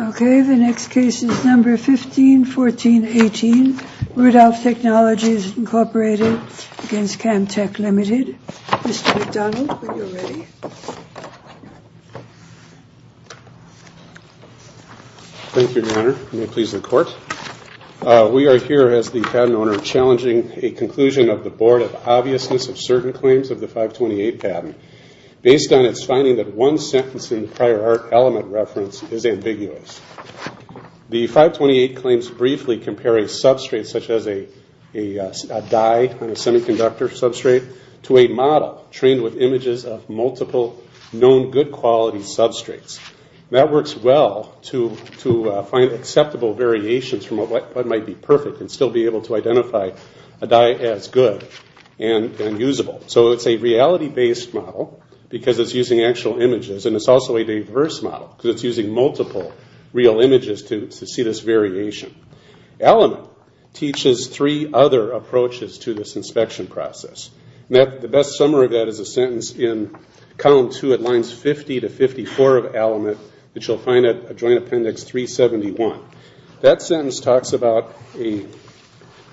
Okay, the next case is number 15-14-18, Rudolf Technologies, Incorporated, against Camden Tech, Ltd. Mr. McDonald, when you're ready. Thank you, Your Honor. May it please the Court. We are here as the patent owner challenging a conclusion of the Board of Obviousness of Certain Claims of the 528 patent based on its finding that one sentence in the prior art element reference is ambiguous. The 528 claims briefly compare a substrate such as a dye on a semiconductor substrate to a model trained with images of multiple known good quality substrates. That works well to find acceptable variations from what might be perfect and still be able to identify a dye as good and usable. So it's a reality based model because it's using actual images and it's also a diverse model because it's using multiple real images to see this variation. Element teaches three other approaches to this inspection process. The best summary of that is a sentence in column 2 at lines 50-54 of Element that you'll find at Joint Appendix 371. That sentence talks about a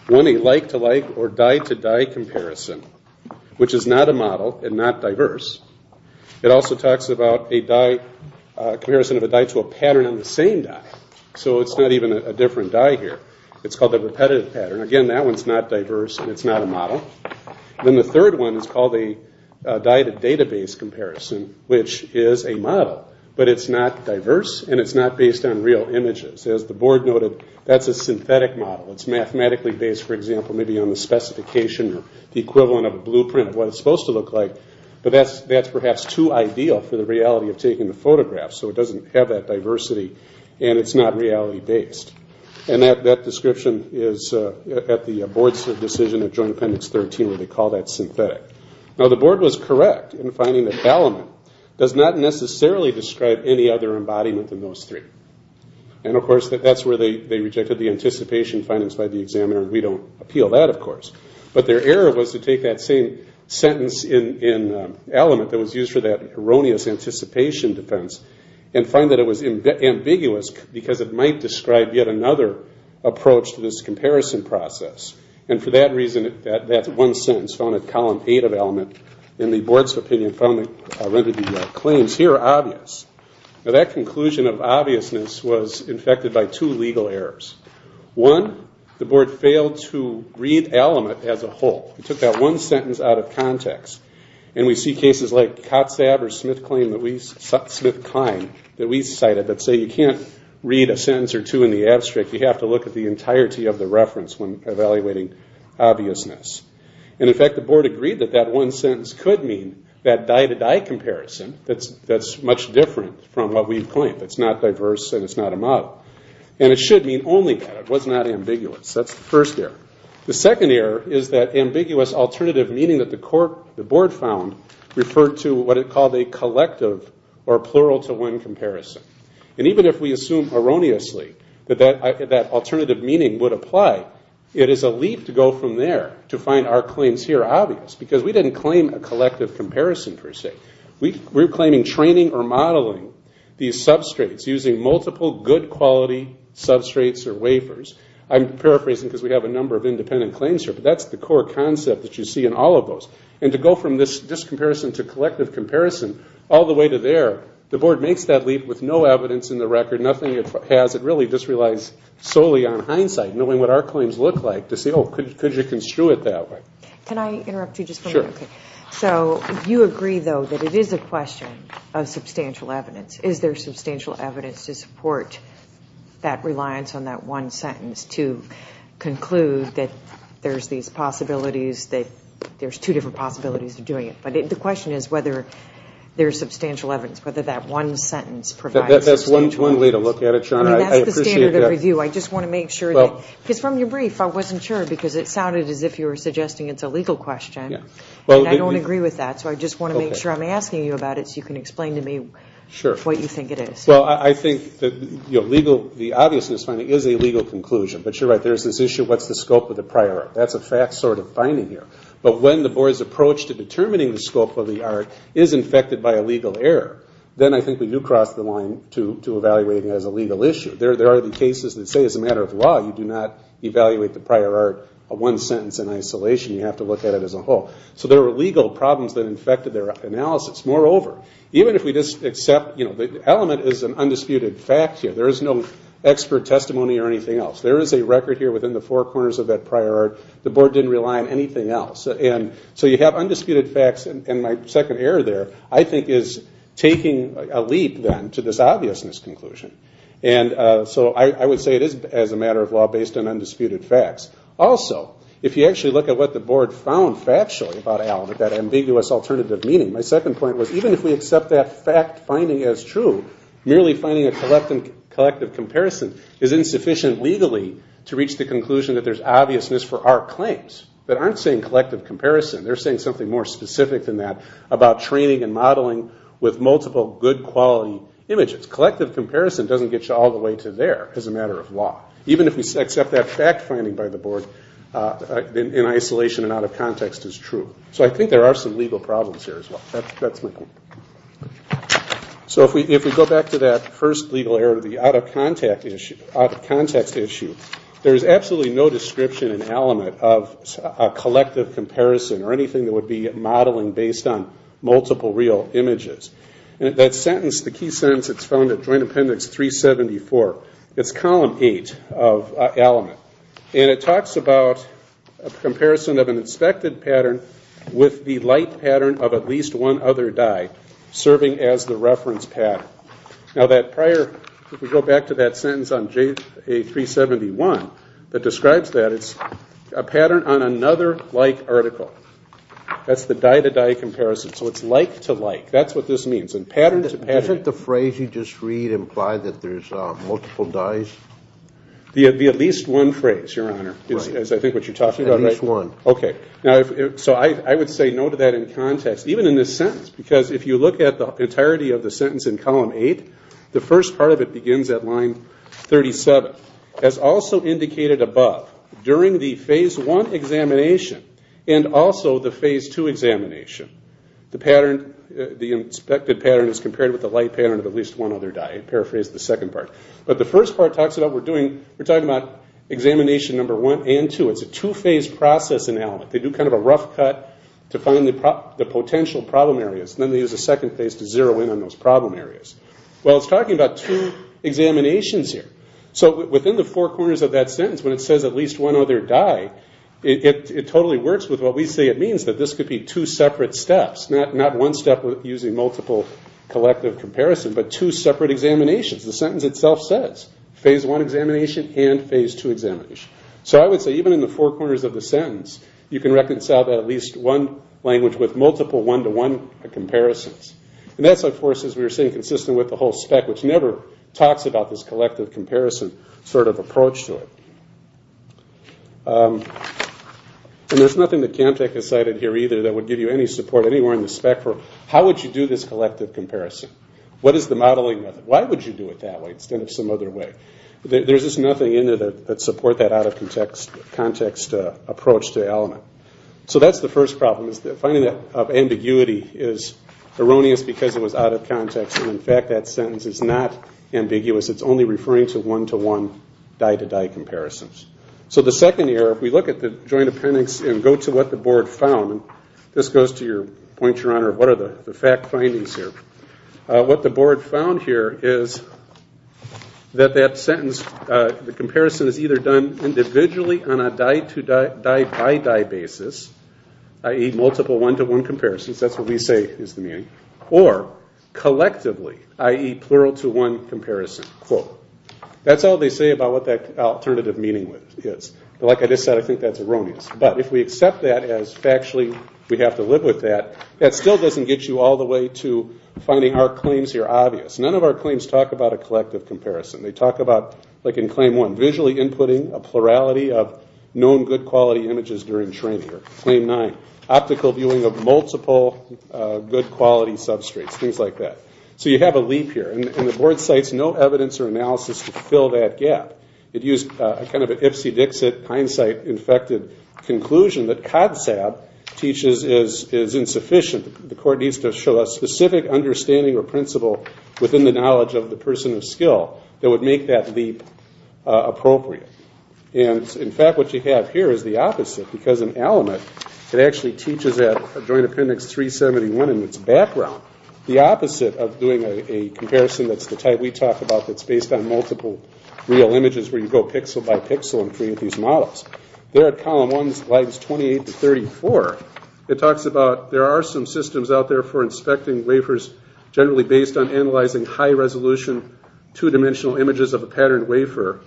like-to-like or dye-to-dye comparison, which is not a model and not diverse. It also talks about a dye, a comparison of a dye to a pattern on the same dye. So it's not even a different dye here. It's called a repetitive pattern. Again, that one's not diverse and it's not a model. Then the third one is called a dye-to-database comparison, which is a model, but it's not diverse and it's not based on real images. As the Board noted, that's a synthetic model. It's mathematically based, for example, maybe on the specification or the equivalent of a blueprint of what it's supposed to look like, but that's perhaps too ideal for the reality of taking the photograph so it doesn't have that diversity and it's not reality-based. That description is at the Board's decision at Joint Appendix 13 where they call that synthetic. Now the Board was correct in finding that Element does not necessarily describe any other embodiment than those three. Of course, that's where they rejected the anticipation findings by the examiner and we don't appeal that, of course. But their error was to take that same sentence in Element that was used for that erroneous anticipation defense and find that it was ambiguous because it might describe yet another approach to this comparison process. For that reason, that one sentence found at Column 8 of Element in the Board's opinion finally rendered the claims here obvious. That conclusion of obviousness was infected by two legal errors. One, the Board failed to read Element as a whole. It took that one sentence out of context. And we see cases like COTSAB or Smith-Klein that we cited that say you can't read a sentence or two in the abstract. You have to look at the entirety of the reference when evaluating obviousness. And in fact, the Board agreed that that one sentence could mean that die-to-die comparison that's much different from what we've claimed. It's not diverse and it's not a model. And it should mean only that. It was not ambiguous. That's the first error. The second error is that ambiguous alternative meaning that the Board found referred to what it called a collective or plural-to-one comparison. And even if we assume erroneously that that alternative meaning would apply, it is a leap to go from there to find our claims here obvious because we didn't claim a collective comparison per se. We were claiming training or modeling these substrates using multiple good quality substrates or wafers. I'm paraphrasing because we have a number of independent claims here, but that's the core concept that you see in all of those. And to go from this discomparison to collective comparison all the way to there, the Board makes that leap with no evidence in the record, nothing it has. It really just relies solely on hindsight, knowing what our claims look like, to say, oh, could you construe it that way? Can I interrupt you just for a minute? Sure. So you agree, though, that it is a question of substantial evidence. Is there substantial evidence to support that reliance on that one sentence to conclude that there's these possibilities, that there's two different possibilities of doing it? But the question is whether there's substantial evidence, whether that one sentence provides substantial evidence. That's one way to look at it, Sean. I appreciate that. I mean, that's the standard of review. I just want to make sure that, because from your brief I wasn't sure because it sounded as if you were suggesting it's a legal question. Yeah. And I don't agree with that, so I just want to make sure I'm asking you about it so you can explain to me what you think it is. Well, I think the obviousness finding is a legal conclusion. But you're right, there's this issue of what's the scope of the prior art. That's a fact sort of finding here. But when the Board's approach to determining the scope of the art is infected by a legal error, then I think we do cross the line to evaluating it as a legal issue. There are the cases that say as a matter of law you do not evaluate the prior art, a one sentence in isolation. You have to look at it as a whole. So there are legal problems that infected their analysis. Moreover, even if we just accept the element is an undisputed fact here, there is no expert testimony or anything else. There is a record here within the four corners of that prior art. The Board didn't rely on anything else. So you have undisputed facts and my second error there I think is taking a leap then to this obviousness conclusion. So I would say it is as a matter of law based on undisputed facts. Also, if you actually look at what the Board found factually about Allen, that ambiguous alternative meaning, my second point was even if we accept that fact finding as true, merely finding a collective comparison is insufficient legally to reach the conclusion that there's obviousness for our claims. They aren't saying collective comparison, they're saying something more specific than that about training and modeling with multiple good quality images. Collective comparison doesn't get you all the way to there as a matter of law. Even if we accept that fact finding by the Board in isolation and out of context is true. So I think there are some legal problems here as well. That's my point. So if we go back to that first legal error, the out of context issue, there is absolutely no description and element of a collective comparison or anything that would be modeling based on multiple real images. That sentence, the key sentence that's found at Joint Appendix 374, it's Column 8 of Allen. And it talks about a comparison of an inspected pattern with the light pattern of at least one other die serving as the reference pattern. Now that prior, if we go back to that sentence on JA 371 that describes that, it's a pattern on another like article. That's the die to die comparison. So it's like to like. That's what this means. And pattern to pattern. Isn't the phrase you just read imply that there's multiple dies? The at least one phrase, Your Honor, is I think what you're talking about. At least one. Okay. So I would say no to that in context. Even in this sentence. Because if you look at the entirety of the sentence in Column 8, the first part of it begins at line 37. As also indicated above, during the Phase 1 examination and also the Phase 2 examination, the pattern, the inspected pattern is compared with the light pattern of at least one other die. I paraphrased the second part. But the first part talks about we're doing, we're talking about examination number 1 and 2. It's a two-phase process in Allen. They do kind of a rough cut to find the potential problem areas. Then they use a second phase to zero in on those problem areas. Well it's talking about two examinations here. So within the four corners of that sentence, when it says at least one other die, it totally works with what we say it means, that this could be two separate steps. Not one step using multiple collective comparisons, but two separate examinations. The sentence itself says, Phase 1 examination and Phase 2 examination. So I would say even in the four corners of the sentence, you can reconcile that at least one language with multiple one-to-one comparisons. And that's of course, as we were saying, consistent with the whole spec, which never talks about this collective comparison sort of approach to it. And there's nothing that CamTech has cited here either that would give you any support anywhere in the spec for how would you do this collective comparison? What is the modeling method? Why would you do it that way instead of some other way? There's just nothing in there that supports that out-of-context approach to the element. So that's the first problem. Finding that ambiguity is erroneous because it was out of context. And in fact, that sentence is not ambiguous. It's only referring to one-to-one die-to-die comparisons. So the second area, if we look at the joint appendix and go to what the board found, this goes to your point, Your Honor, what are the fact findings here? What the board found here is that that sentence, the comparison is either done individually on a die-by-die basis, i.e. multiple one-to-one comparisons, that's what we say is the meaning, or collectively, i.e. what that alternative meaning is. But like I just said, I think that's erroneous. But if we accept that as factually we have to live with that, that still doesn't get you all the way to finding our claims here obvious. None of our claims talk about a collective comparison. They talk about, like in Claim 1, visually inputting a plurality of known good quality images during training, or Claim 9, optical viewing of multiple good quality substrates, things like that. So you have a leap here. And the board cites no evidence or analysis to fill that gap. It used a kind of an Ipsy-Dixit, hindsight-infected conclusion that CODSAB teaches is insufficient. The court needs to show a specific understanding or principle within the knowledge of the person of skill that would make that leap appropriate. And in fact, what you have here is the opposite, because in Alamut it actually teaches at Joint Appendix 371 in its background the opposite of doing a comparison that's the type we talk about that's based on multiple real images where you go pixel by pixel and create these models. There at Column 1, Slides 28 to 34, it talks about there are some systems out there for inspecting wafers generally based on analyzing high-resolution, two-dimensional images of a patterned wafer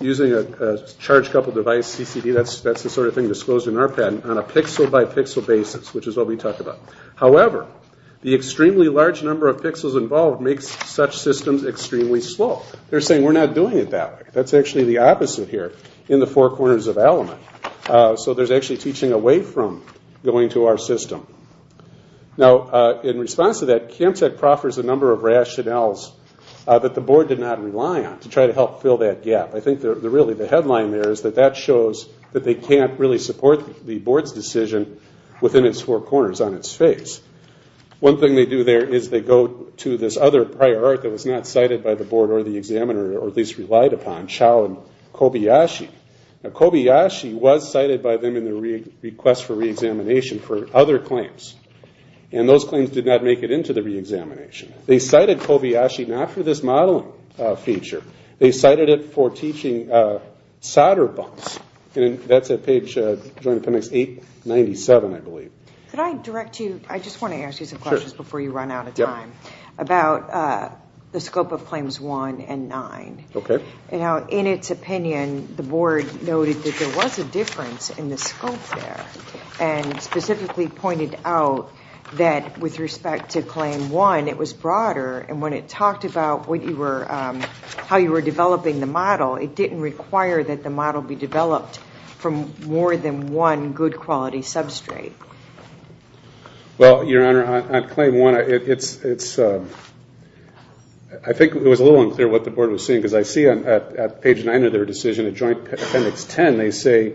using a charge-coupled device, CCD, that's the sort of thing disclosed in our patent, on a pixel-by-pixel basis, which is what we talk about. However, the we're not doing it that way. That's actually the opposite here in the four corners of Alamut. So there's actually teaching away from going to our system. Now in response to that, CamTech proffers a number of rationales that the board did not rely on to try to help fill that gap. I think really the headline there is that that shows that they can't really support the board's decision within its four corners on its face. One thing they do there is they go to this other prior art that was not cited by the board or the examiner, or at least relied upon, Chow and Kobayashi. Now Kobayashi was cited by them in the request for reexamination for other claims. And those claims did not make it into the reexamination. They cited Kobayashi not for this modeling feature. They cited it for teaching solder bumps. And that's at page, Joint Appendix 897, I believe. Could I direct you, I just want to ask you some questions before you run out of time, about the scope of Claims 1 and 9. In its opinion, the board noted that there was a difference in the scope there, and specifically pointed out that with respect to Claim 1, it was broader. And when it talked about how you were developing the model, it didn't require that the model be developed from more than one good quality substrate. Well, Your Honor, on Claim 1, I think it was a little unclear what the board was saying, because I see on page 9 of their decision, Joint Appendix 10, they say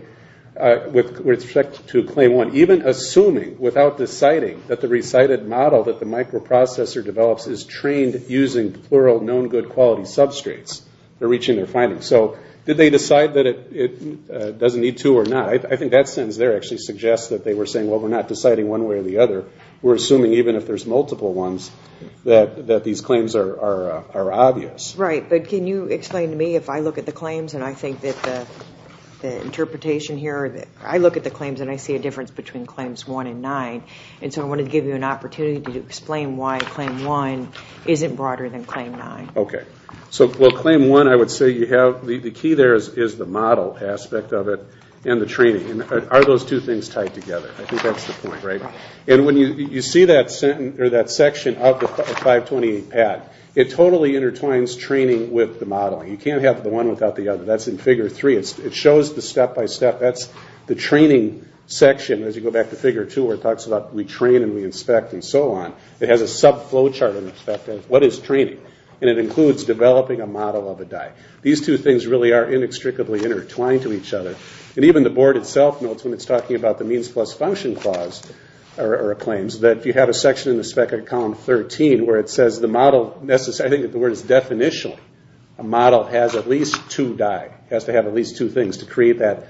with respect to Claim 1, even assuming without deciding that the recited model that the microprocessor develops is trained using plural known good quality substrates, they're reaching their findings. So did they decide that it doesn't need two or not? I think that sentence there actually suggests that they were saying, well, we're not deciding one way or the other. We're assuming even if there's multiple ones, that these claims are obvious. Right, but can you explain to me, if I look at the claims, and I think that the interpretation here, I look at the claims and I see a difference between Claims 1 and 9, and so I wanted to give you an opportunity to explain why Claim 1 isn't broader than Claim 9. Okay. So, well, Claim 1, I would say you have, the key there is the model aspect of it, and the training. Are those two things tied together? I think that's the point, right? And when you see that section of the 528 pad, it totally intertwines training with the modeling. You can't have the one without the other. That's in Figure 3. It shows the step-by-step. That's the training section, as you go back to Figure 2, where it talks about we train and we inspect and so on. It has a sub-flow chart in respect to what is training. And it includes developing a model of a die. These two things really are inextricably intertwined to each other. And even the board itself notes when it's talking about the means plus function clause, or claims, that if you have a section in the spec of column 13 where it says the model, I think the word is definitional, a model has at least two die, has to have at least two things to create that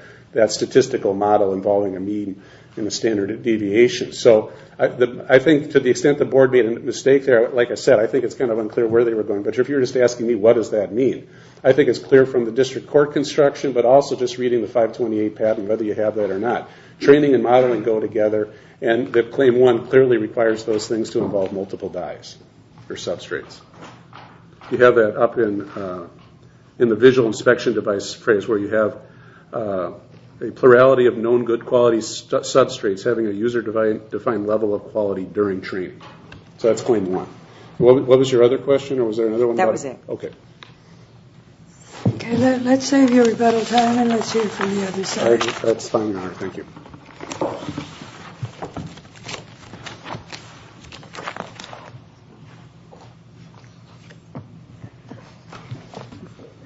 statistical model involving a mean and a standard deviation. So I think to the extent the board made a mistake there, like I said, I think it's kind of unclear where they were going. But if you're just asking me, what does that mean? I think it's clear from the district court construction, but also just reading the 528 patent, whether you have that or not. Training and modeling go together, and Claim 1 clearly requires those things to involve multiple dies or substrates. You have that up in the visual inspection device phrase, where you have a plurality of known good quality substrates having a user-defined level of quality during training. So that's Claim 1. What was your other question? That was it. Okay. Okay, let's save your rebuttal time and let's hear from the other side. That's fine, Your Honor. Thank you.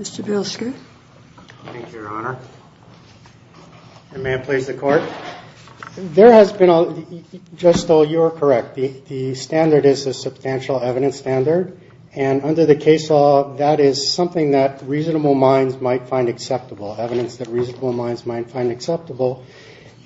Mr. Bielski. Thank you, Your Honor. And may it please the Court. There has been a, just so you are correct, the standard is a substantial evidence standard, and under the case law, that is something that reasonable minds might find acceptable, evidence that reasonable minds might find acceptable.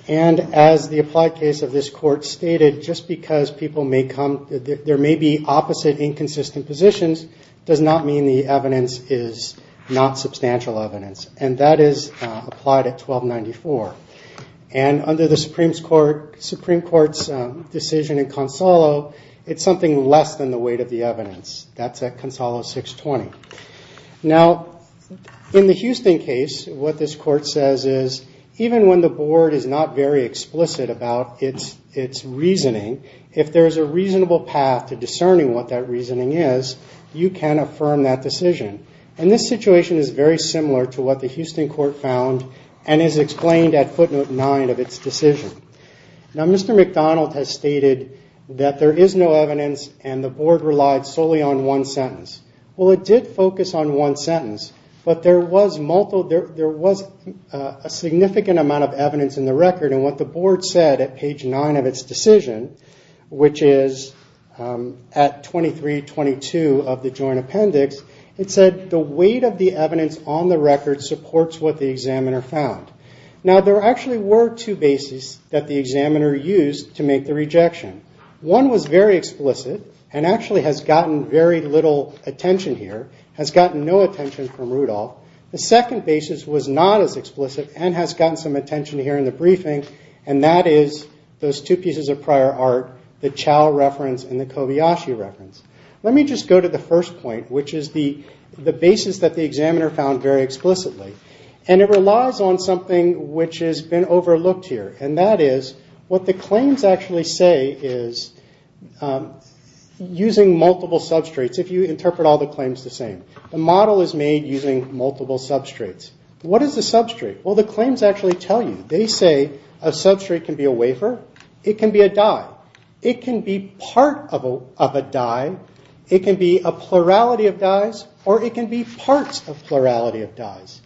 And as the applied case of this Court stated, just because people may come, there may be opposite inconsistent positions, does not mean the evidence is not substantial evidence. And that is applied at 1294. And under the Supreme Court's decision in Consolo, it's something less than the weight of the evidence. That's at Consolo 620. Now, in the Houston case, what this Court says is, even when the Board is not very explicit about its reasoning, if there is a reasonable path to discerning what that reasoning is, you can affirm that decision. And this situation is very similar to what the Houston Court found and is explained at footnote 9 of its decision. Now, Mr. McDonald has stated that there is no evidence and the Board relied solely on one sentence. Well, it did focus on one sentence, but there was a significant amount of evidence in the record. And what the Board said at page 9 of its decision, which is at 2322 of the Joint Appendix, it said the weight of the evidence on the record supports what the examiner found. Now, there actually were two bases that the examiner used to make the rejection. One was very explicit and actually has gotten very little attention here, has gotten no attention from Rudolph. The second basis was not as explicit and has gotten some attention here in the briefing, and that is those two pieces of prior art, the Chao reference and the Kobayashi reference. Let me just go to the first point, which is the basis that the examiner found very explicitly. And it relies on something which has been overlooked here, and that is what the claims actually say is using multiple substrates, if you interpret all the claims the same. The model is made using multiple substrates. What is a substrate? Well, the claims actually tell you. They say a substrate can be a wafer, it can be a dye, it can be part of a dye, it can be a plurality of dyes, or it can be parts of plurality of dyes.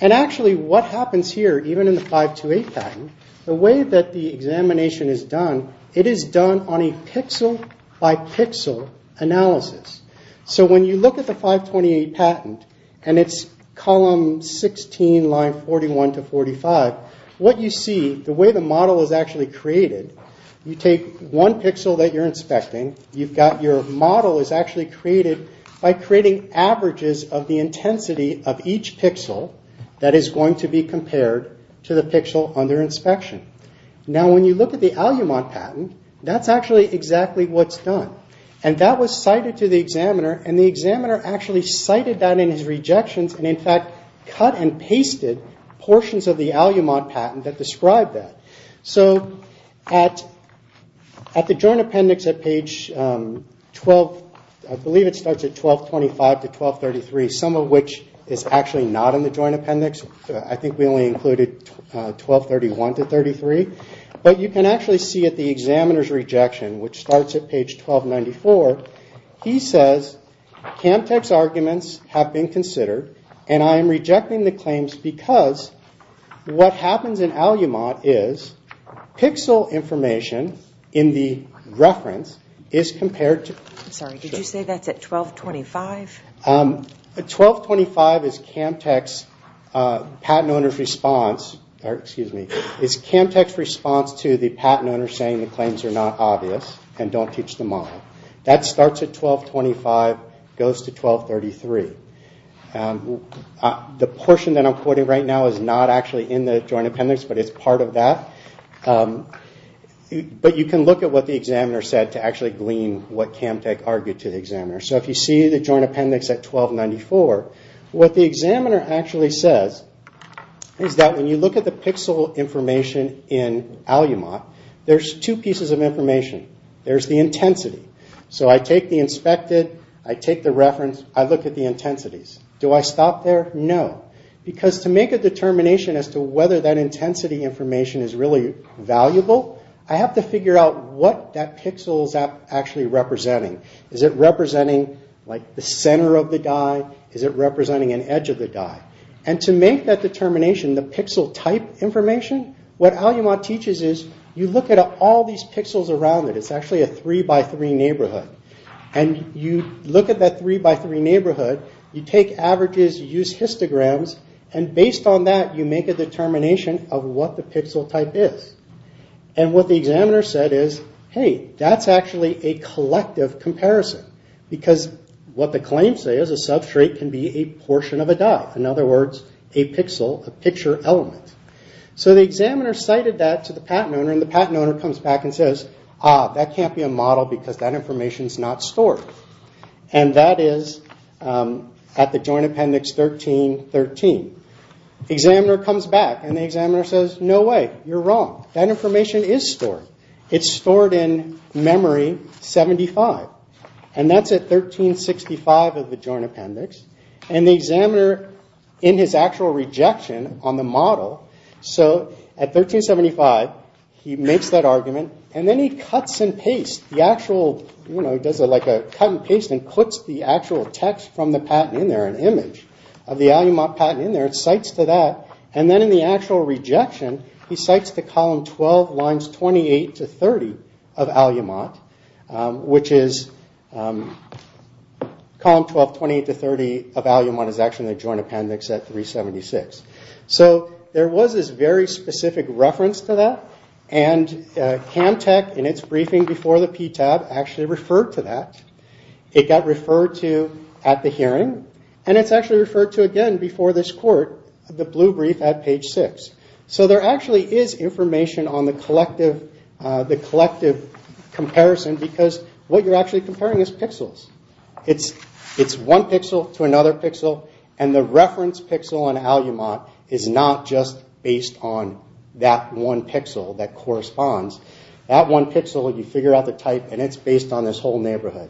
And actually, what happens here, even in the 528 patent, the way that the examination is done, it is done on a pixel-by-pixel analysis. So, when you look at the 528 patent and its column 16, line 41 to 45, what you see, the way the model is actually created, you take one pixel that you're inspecting, you've got your model is actually created by creating averages of the intensity of each pixel that is going to be compared to the pixel under inspection. Now, when you look at the Alumod patent, that's actually exactly what's done. And that was cited to the examiner, and the examiner actually cited that in his rejections and, in fact, cut and pasted portions of the Alumod patent that describe that. So, at the joint appendix at page 12, I believe it starts at 1225 to 1233, some of which is actually not in the joint appendix. I think we only included 1231 to 1233. But you can actually see at the examiner's rejection, which starts at page 1294, he says, CAMTEC's arguments have been considered, and I am rejecting the claims because what happens in Alumod is pixel information in the reference is compared to... I'm sorry, did you say that's at 1225? 1225 is CAMTEC's patent owner's response, or excuse me, is CAMTEC's response to the patent owner saying the claims are not obvious and don't teach the model. That starts at 1225, goes to 1233. The portion that I'm quoting right now is not actually in the joint appendix, but it's part of that. But you can look at what the examiner said to actually glean what CAMTEC argued to the examiner. So, if you see the joint appendix at 1294, what the examiner actually says is that when you look at the pixel information in Alumod, there's two pieces of information. There's the intensity. So I take the inspected, I take the reference, I look at the intensities. Do I stop there? No. Because to make a determination as to whether that intensity information is really valuable, I have to figure out what that pixel is actually representing. Is it representing the center of the guy? Is it representing an edge of the guy? And to make that determination, the pixel type information, what Alumod teaches is you look at all these pixels around it. It's actually a 3x3 neighborhood. And you look at that 3x3 neighborhood, you take averages, you use histograms, and based on that you make a determination of what the pixel type is. And what the examiner said is, hey, that's actually a collective comparison. Because what the claims say is a substrate can be a portion of a dot. In other words, a pixel, a picture element. So the examiner cited that to the patent owner, and the patent owner comes back and says, ah, that can't be a model because that information is not stored. And that is at the Joint Appendix 1313. The examiner comes back and the examiner says, no way, you're wrong. That information is stored. It's stored in memory 75. And that's at 1365 of the Joint Appendix. And the examiner, in his actual rejection on the model, so at 1375, he makes that argument, and then he cuts and pastes. He does a cut and paste and puts the actual text from the patent in there, an image of the Alumod patent in there, and cites to that. And then in the actual rejection, he cites the column 12, lines 28 to 30 of Alumod, which is column 12, 28 to 30 of Alumod is actually in the Joint Appendix at 376. So there was this very specific reference to that, and Cam Tech, in its briefing before the PTAB, actually referred to that. It got referred to at the hearing, and it's actually referred to again before this court, the blue brief at page 6. So there actually is information on the collective comparison, because what you're actually comparing is pixels. It's one pixel to another pixel, and the reference pixel on Alumod is not just based on that one pixel that corresponds. That one pixel, you figure out the type, and it's based on this whole neighborhood.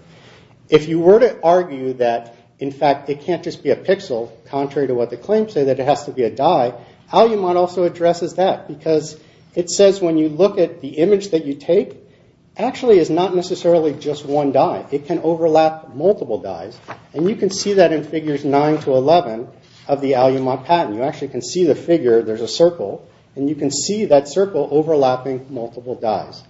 If you were to argue that, in fact, it can't just be a pixel, contrary to what the claims say, that it has to be a die, Alumod also addresses that, because it says, when you look at the image that you take, actually it's not necessarily just one die. It can overlap multiple dies, and you can see that in figures 9 to 11 of the Alumod patent. You actually can see the figure. There's a circle, and you can see that circle overlapping multiple dies.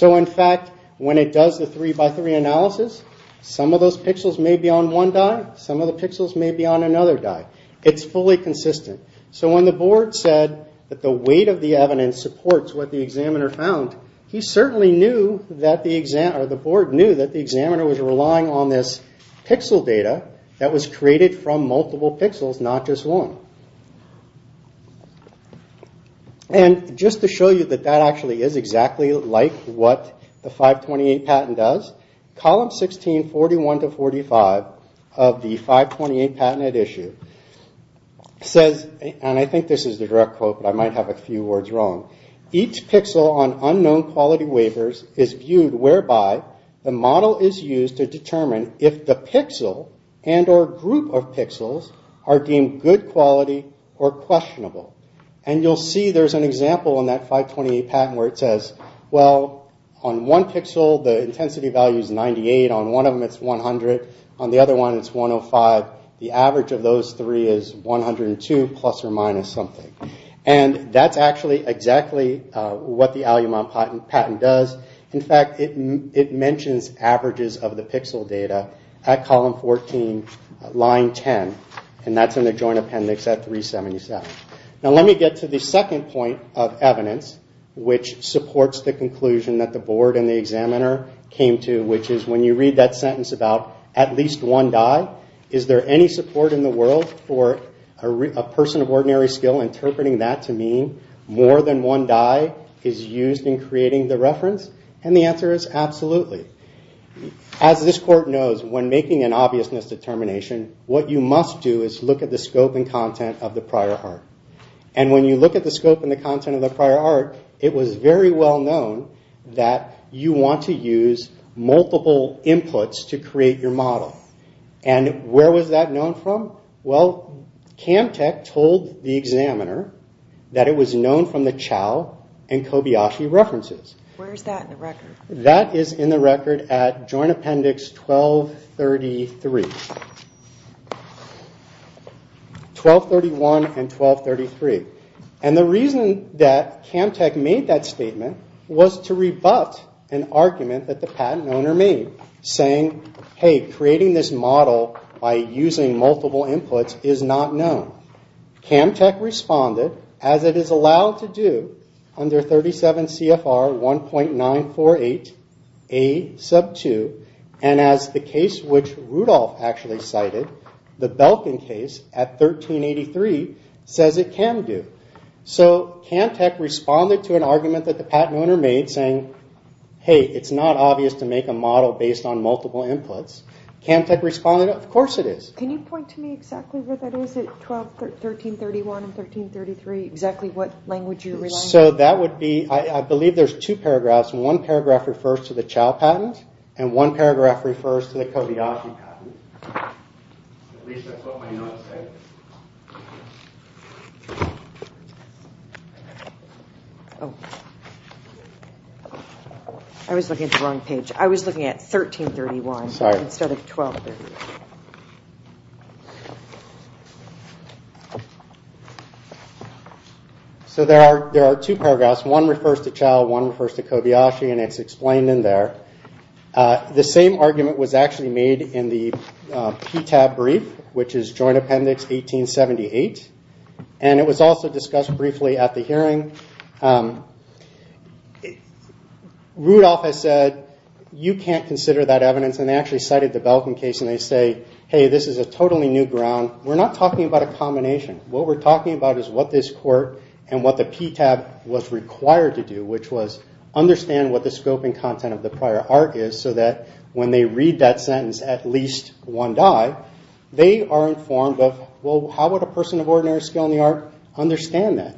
In fact, when it does the 3x3 analysis, some of those pixels may be on one die, some of the pixels may be on another die. It's fully consistent. When the board said that the weight of the evidence supports what the examiner found, the board knew that the examiner was relying on this pixel data that was created from multiple pixels, not just one. Just to show you that that actually is exactly like what the 528 patent does, column 16, 41 to 45 of the 528 patent at issue says, and I think this is the direct quote, but I might have a few words wrong, each pixel on unknown quality waivers is viewed whereby the model is used to determine if the pixel and or group of pixels are deemed good quality or questionable. You'll see there's an example in that 528 patent where it says, on one pixel the intensity value is 98, on one of them it's 100, on the other one it's 105. The average of those three is 102 plus or minus something. That's actually exactly what the Alumod patent does. In fact, it mentions averages of the pixel data at column 14, line 10, and that's in the joint appendix at 377. Let me get to the second point of evidence which supports the conclusion that the board and the examiner came to, which is when you read that sentence about at least one die, is there any support in the world for a person of ordinary skill interpreting that to mean more than one die is used in creating the reference? The answer is absolutely. As this court knows, when making an obviousness determination, what you must do is look at the scope and content of the prior art. When you look at the scope and the content of the prior art, it was very well known that you want to use multiple inputs to create your model. Where was that known from? CAMTEC told the examiner that it was known from the Chao and Kobayashi references. Where is that in the record? That is in the record at joint appendix 1231 and 1233. The reason that CAMTEC made that statement was to rebut an argument that the patent owner made, saying, hey, creating this model by using multiple inputs is not known. CAMTEC responded, as it is allowed to do under 37 CFR 1.948A2, and as the case which Rudolph actually cited, the Belkin case at 1383, says it can do. CAMTEC responded to an argument that the patent owner made, saying, hey, it's not obvious to make a model based on multiple inputs. I believe there are two paragraphs. One paragraph refers to the Chao patent, and one paragraph refers to the Kobayashi patent. So there are two paragraphs. The same argument was actually made in the PTAB brief, which is joint appendix 1878, and it was also discussed briefly at the hearing. Rudolph has said, you can't consider that evidence, and they actually cited the Belkin case and they say, hey, this is a totally new ground. We're not talking about a combination. What we're talking about is what this court and what the PTAB was required to do, which was understand what the scoping content of the prior art is, so that when they read that sentence, at least one die, they are informed of, well, how would a person of ordinary skill in the art understand that?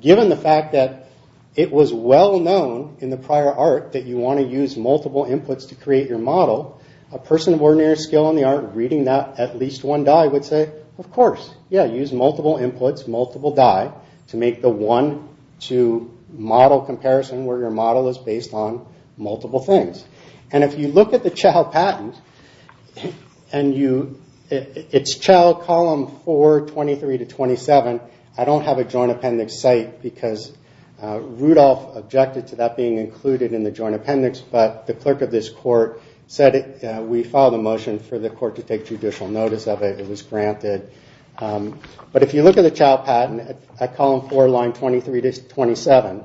Given the fact that it was well known in the prior art that you want to use multiple inputs to create your model, a person of ordinary skill in the art reading that at least one die would say, of course, yeah, use multiple inputs, multiple die, to make the one, two model comparison where your model is based on multiple things. If you look at the Chau patent, it's Chau column 4, 23 to 27. I don't have a joint appendix site because Rudolph objected to that being included in the joint appendix, but the clerk of this court said we filed a motion for the court to take judicial notice of it. It was granted, but if you look at the Chau patent at column 4, line 23 to 27,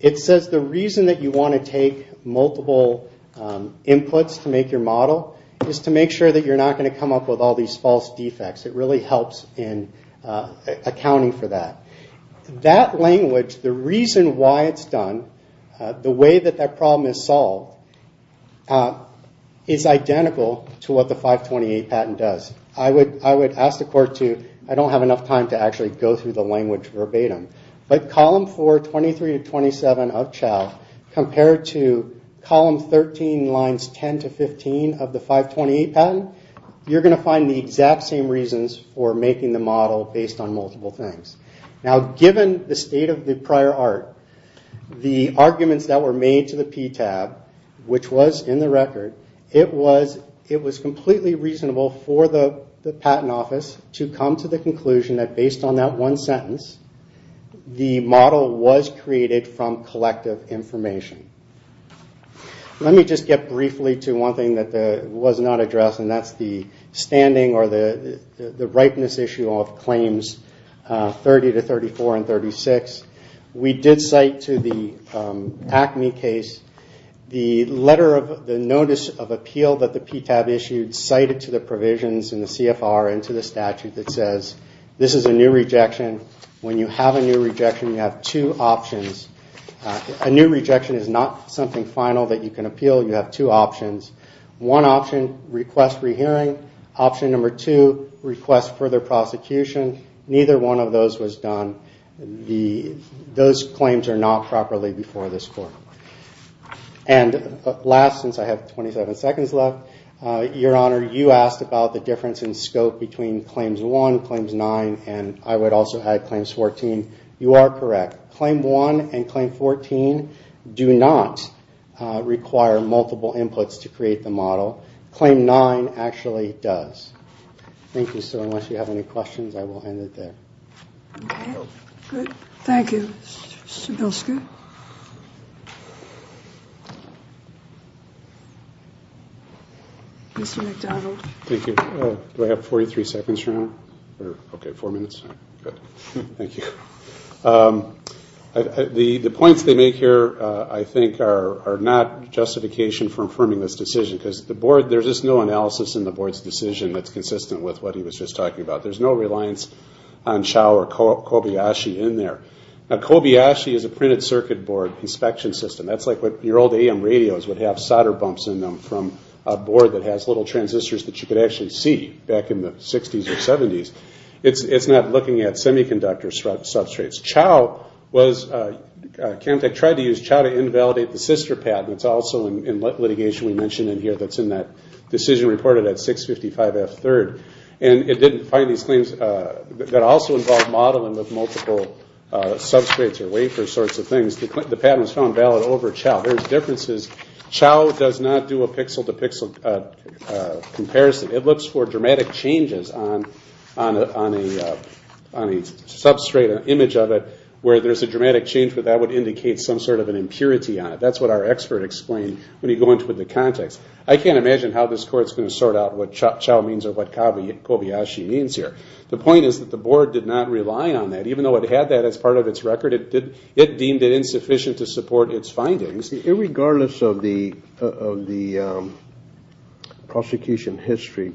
it says the reason that you want to take multiple inputs to make your model is to make sure that you're not going to come up with all these false defects. It really helps in accounting for that. That language, the reason why it's done, the way that that problem is solved, is identical to what the 528 patent does. I would ask the court to, I don't have enough time to actually go through the language verbatim, but column 4, 23 to 27 of Chau compared to column 13, lines 10 to 15 of the 528 patent, you're going to find the exact same reasons for making the model based on multiple things. Now, given the state of the prior art, the arguments that were made to the PTAB which was in the record, it was completely reasonable for the patent office to come to the conclusion that based on that one sentence, the model was created from collective information. Let me just get briefly to one thing that was not addressed, and that's the standing or the ripeness issue of claims 30 to 34 and 36. We did cite to the ACME case the notice of appeal that the PTAB issued, cited to the provisions in the CFR and to the statute that says this is a new rejection. When you have a new rejection, you have two options. A new rejection is not something final that you can appeal. You have two options. One option, request re-hearing. Option number two, request further prosecution. Neither one of those was done. Those claims are not properly before this court. And last, since I have 27 seconds left, Your Honor, you asked about the difference in scope between Claims 1, Claims 9, and I would also add Claims 14. You are correct. Claim 1 and Claim 14 do not require multiple inputs to create the model. Claim 9 actually does. And I will end it there. Thank you. Do I have 43 seconds, Your Honor? Okay, four minutes. The points they make here, I think, are not justification for affirming this decision, because there's just no analysis in the board's decision that's consistent with what he was just talking about. There's no reliance on Chao or Kobayashi in there. Now, Kobayashi is a printed circuit board inspection system. That's like your old AM radios would have solder bumps in them from a board that has little transistors that you could actually see back in the 60s or 70s. It's not looking at semiconductor substrates. Chemtech tried to use Chao to invalidate the sister patent. It's also in litigation we mentioned in here that's in that decision reported at 655F3rd. And it didn't find these claims that also involved modeling with multiple substrates or wafer sorts of things. The patent was found valid over Chao. There's differences. Chao does not do a pixel-to-pixel comparison. It looks for dramatic changes on a substrate, an image of it, where there's a dramatic change, but that would indicate some sort of an impurity on it. That's what our expert explained when you go into the context. I can't imagine how this court's going to sort out what Chao means or what Kobayashi means here. The point is that the board did not rely on that. Even though it had that as part of its record, it deemed it insufficient to support its findings. Irregardless of the prosecution history,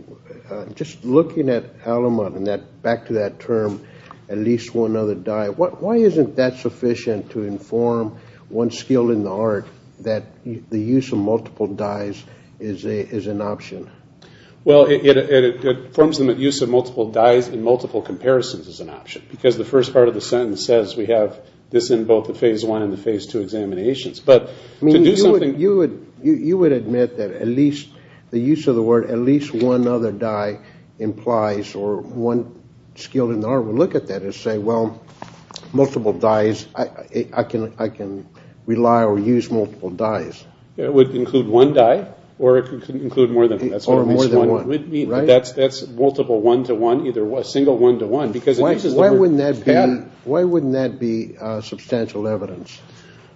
just looking at Alamut and back to that term, at least one other dye, why isn't that sufficient to inform one skill in the art that the use of multiple dyes is an option? It informs them that the use of multiple dyes in multiple comparisons is an option, because the first part of the sentence says we have this in both the Phase I and the Phase II examinations. You would admit that the use of the word at least one other dye implies, or one skill in the art would look at that and say, well, multiple dyes, I can rely or use multiple dyes. It would include one dye, or it could include more than one. That's multiple one-to-one, a single one-to-one. Why wouldn't that be substantial evidence?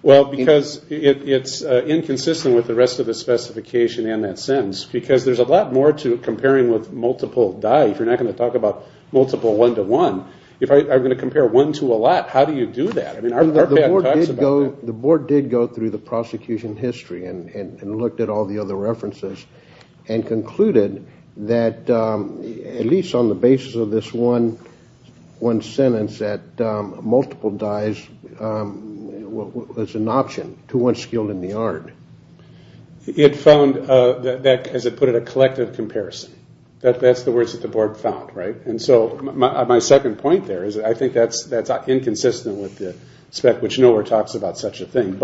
It's inconsistent with the rest of the specification and that sentence, because there's a lot more to comparing with multiple dyes. You're not going to talk about multiple one-to-one. If I'm going to compare one to a lot, how do you do that? The board did go through the prosecution history and looked at all the other references and concluded that, at least on the basis of this one sentence, that multiple dyes was an option to one skill in the art. It found, as it put it, a collective comparison. That's the words that the board found. My second point there is I think that's inconsistent with the spec, which nowhere talks about such a thing.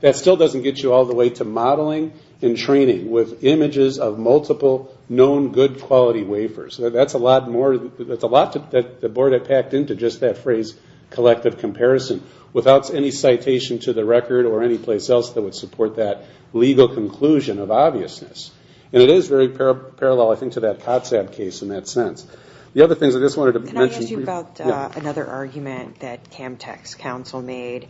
That still doesn't get you all the way to modeling and training with images of multiple known good quality wafers. That's a lot that the board had packed into just that phrase, collective comparison, without any citation to the record or any place else that would support that legal conclusion of obviousness. It is very parallel, I think, to that COTSAB case in that sense. Can I ask you about another argument that CamTech's counsel made?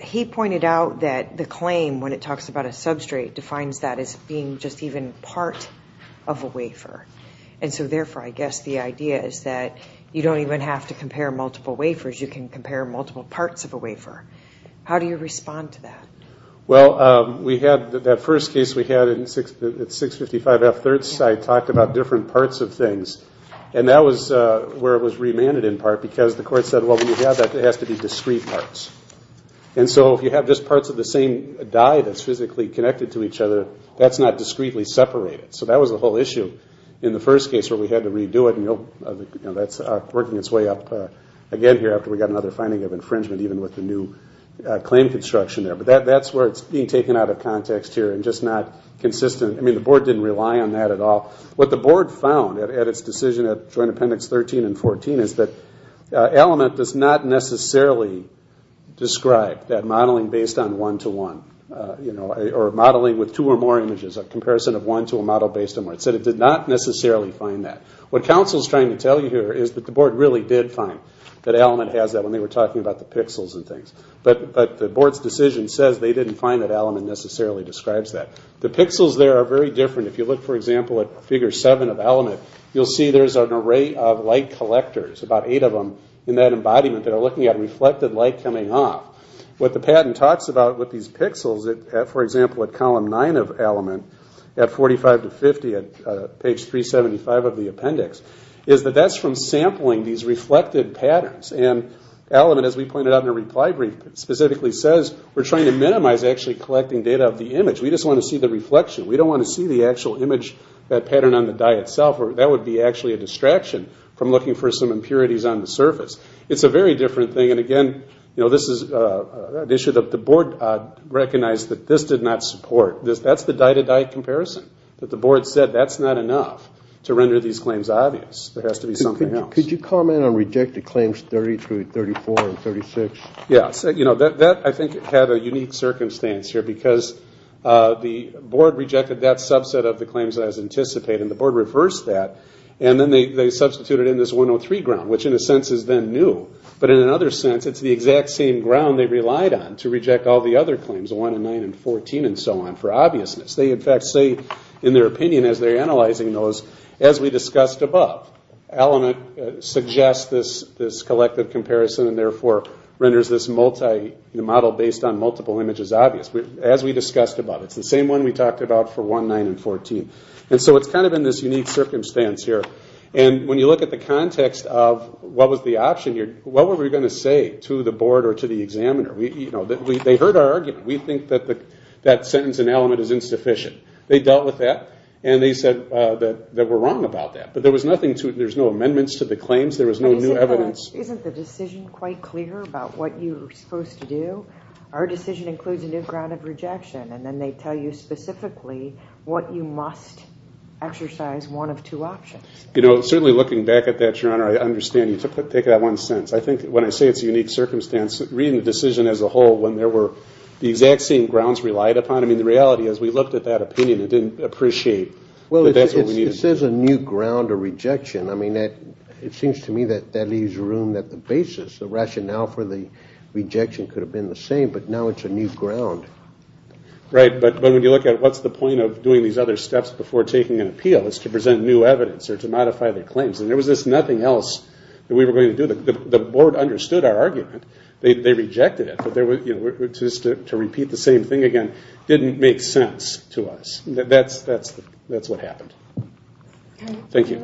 He pointed out that the claim, when it talks about a substrate, defines that as being just even part of a wafer. Therefore, I guess the idea is that you don't even have to compare multiple wafers. You can compare multiple parts of a wafer. How do you respond to that? That first case we had at 655 F 3rd, I talked about different parts of things. That was where it was remanded, in part, because the court said, well, when you have that, it has to be discrete parts. If you have just parts of the same dye that's physically connected to each other, that's not discretely separated. That was the whole issue in the first case where we had to redo it. That's working its way up again here after we got another finding of infringement, even with the new claim construction there. That's where it's being taken out of context here and just not consistent. The board didn't rely on that at all. What the board found at its decision at Joint Appendix 13 and 14 is that Element does not necessarily describe that modeling based on one-to-one, or modeling with two or more images, a comparison of one to a model based on one. It said it did not necessarily find that. What counsel is trying to tell you here is that the board really did find that Element has that when they were talking about the pixels and things. But the board's decision says they didn't find that Element necessarily describes that. The pixels there are very different. If you look, for example, at Figure 7 of Element, you'll see there's an array of light collectors, about eight of them in that embodiment, that are looking at reflected light coming off. What the patent talks about with these pixels, for example, at Column 9 of Element, at 45 to 50, at page 375 of the appendix, is that that's from sampling these reflected patterns. Element, as we pointed out in the reply brief, specifically says we're trying to minimize actually collecting data of the image. We just want to see the reflection. We don't want to see the actual image, that pattern on the die itself. That would be actually a distraction from looking for some impurities on the surface. It's a very different thing. Again, this is an issue that the board recognized that this did not support. That's the die-to-die comparison. The board said that's not enough to render these claims obvious. There has to be something else. Could you comment on rejected claims 32, 34, and 36? That, I think, had a unique circumstance here, because the board rejected that subset of the claims that was anticipated, and the board reversed that. Then they substituted in this 103 ground, which, in a sense, is then new. In another sense, it's the exact same ground they relied on to reject all the other claims, 1 and 9 and 14 and so on, for obviousness. They, in fact, say, in their opinion, as they're analyzing those, as we discussed above, Element suggests this collective comparison, and therefore renders this model based on multiple images obvious, as we discussed above. It's the same one we talked about for 1, 9, and 14. It's in this unique circumstance here. When you look at the context of what was the option here, what were we going to say to the board or to the examiner? They heard our argument. We think that sentence in Element is insufficient. They dealt with that, and they said that we're wrong about that. But there's no amendments to the claims. There was no new evidence. Isn't the decision quite clear about what you're supposed to do? Our decision includes a new ground of rejection, and then they tell you specifically what you must exercise, one of two options. Certainly, looking back at that, Your Honor, I understand you took that one sentence. When I say it's a unique circumstance, reading the decision as a whole, when there were the exact same grounds relied upon, the reality is we looked at that opinion and didn't appreciate that that's what we needed. It says a new ground of rejection. It seems to me that leaves room at the basis. The rationale for the rejection could have been the same, but now it's a new ground. Right, but when you look at what's the point of doing these other steps before taking an appeal? It's to present new evidence or to modify the claims. There was nothing else that we were going to do. The board understood our argument. They rejected it, but to repeat the same thing again didn't make sense to us. That's what happened. Thank you.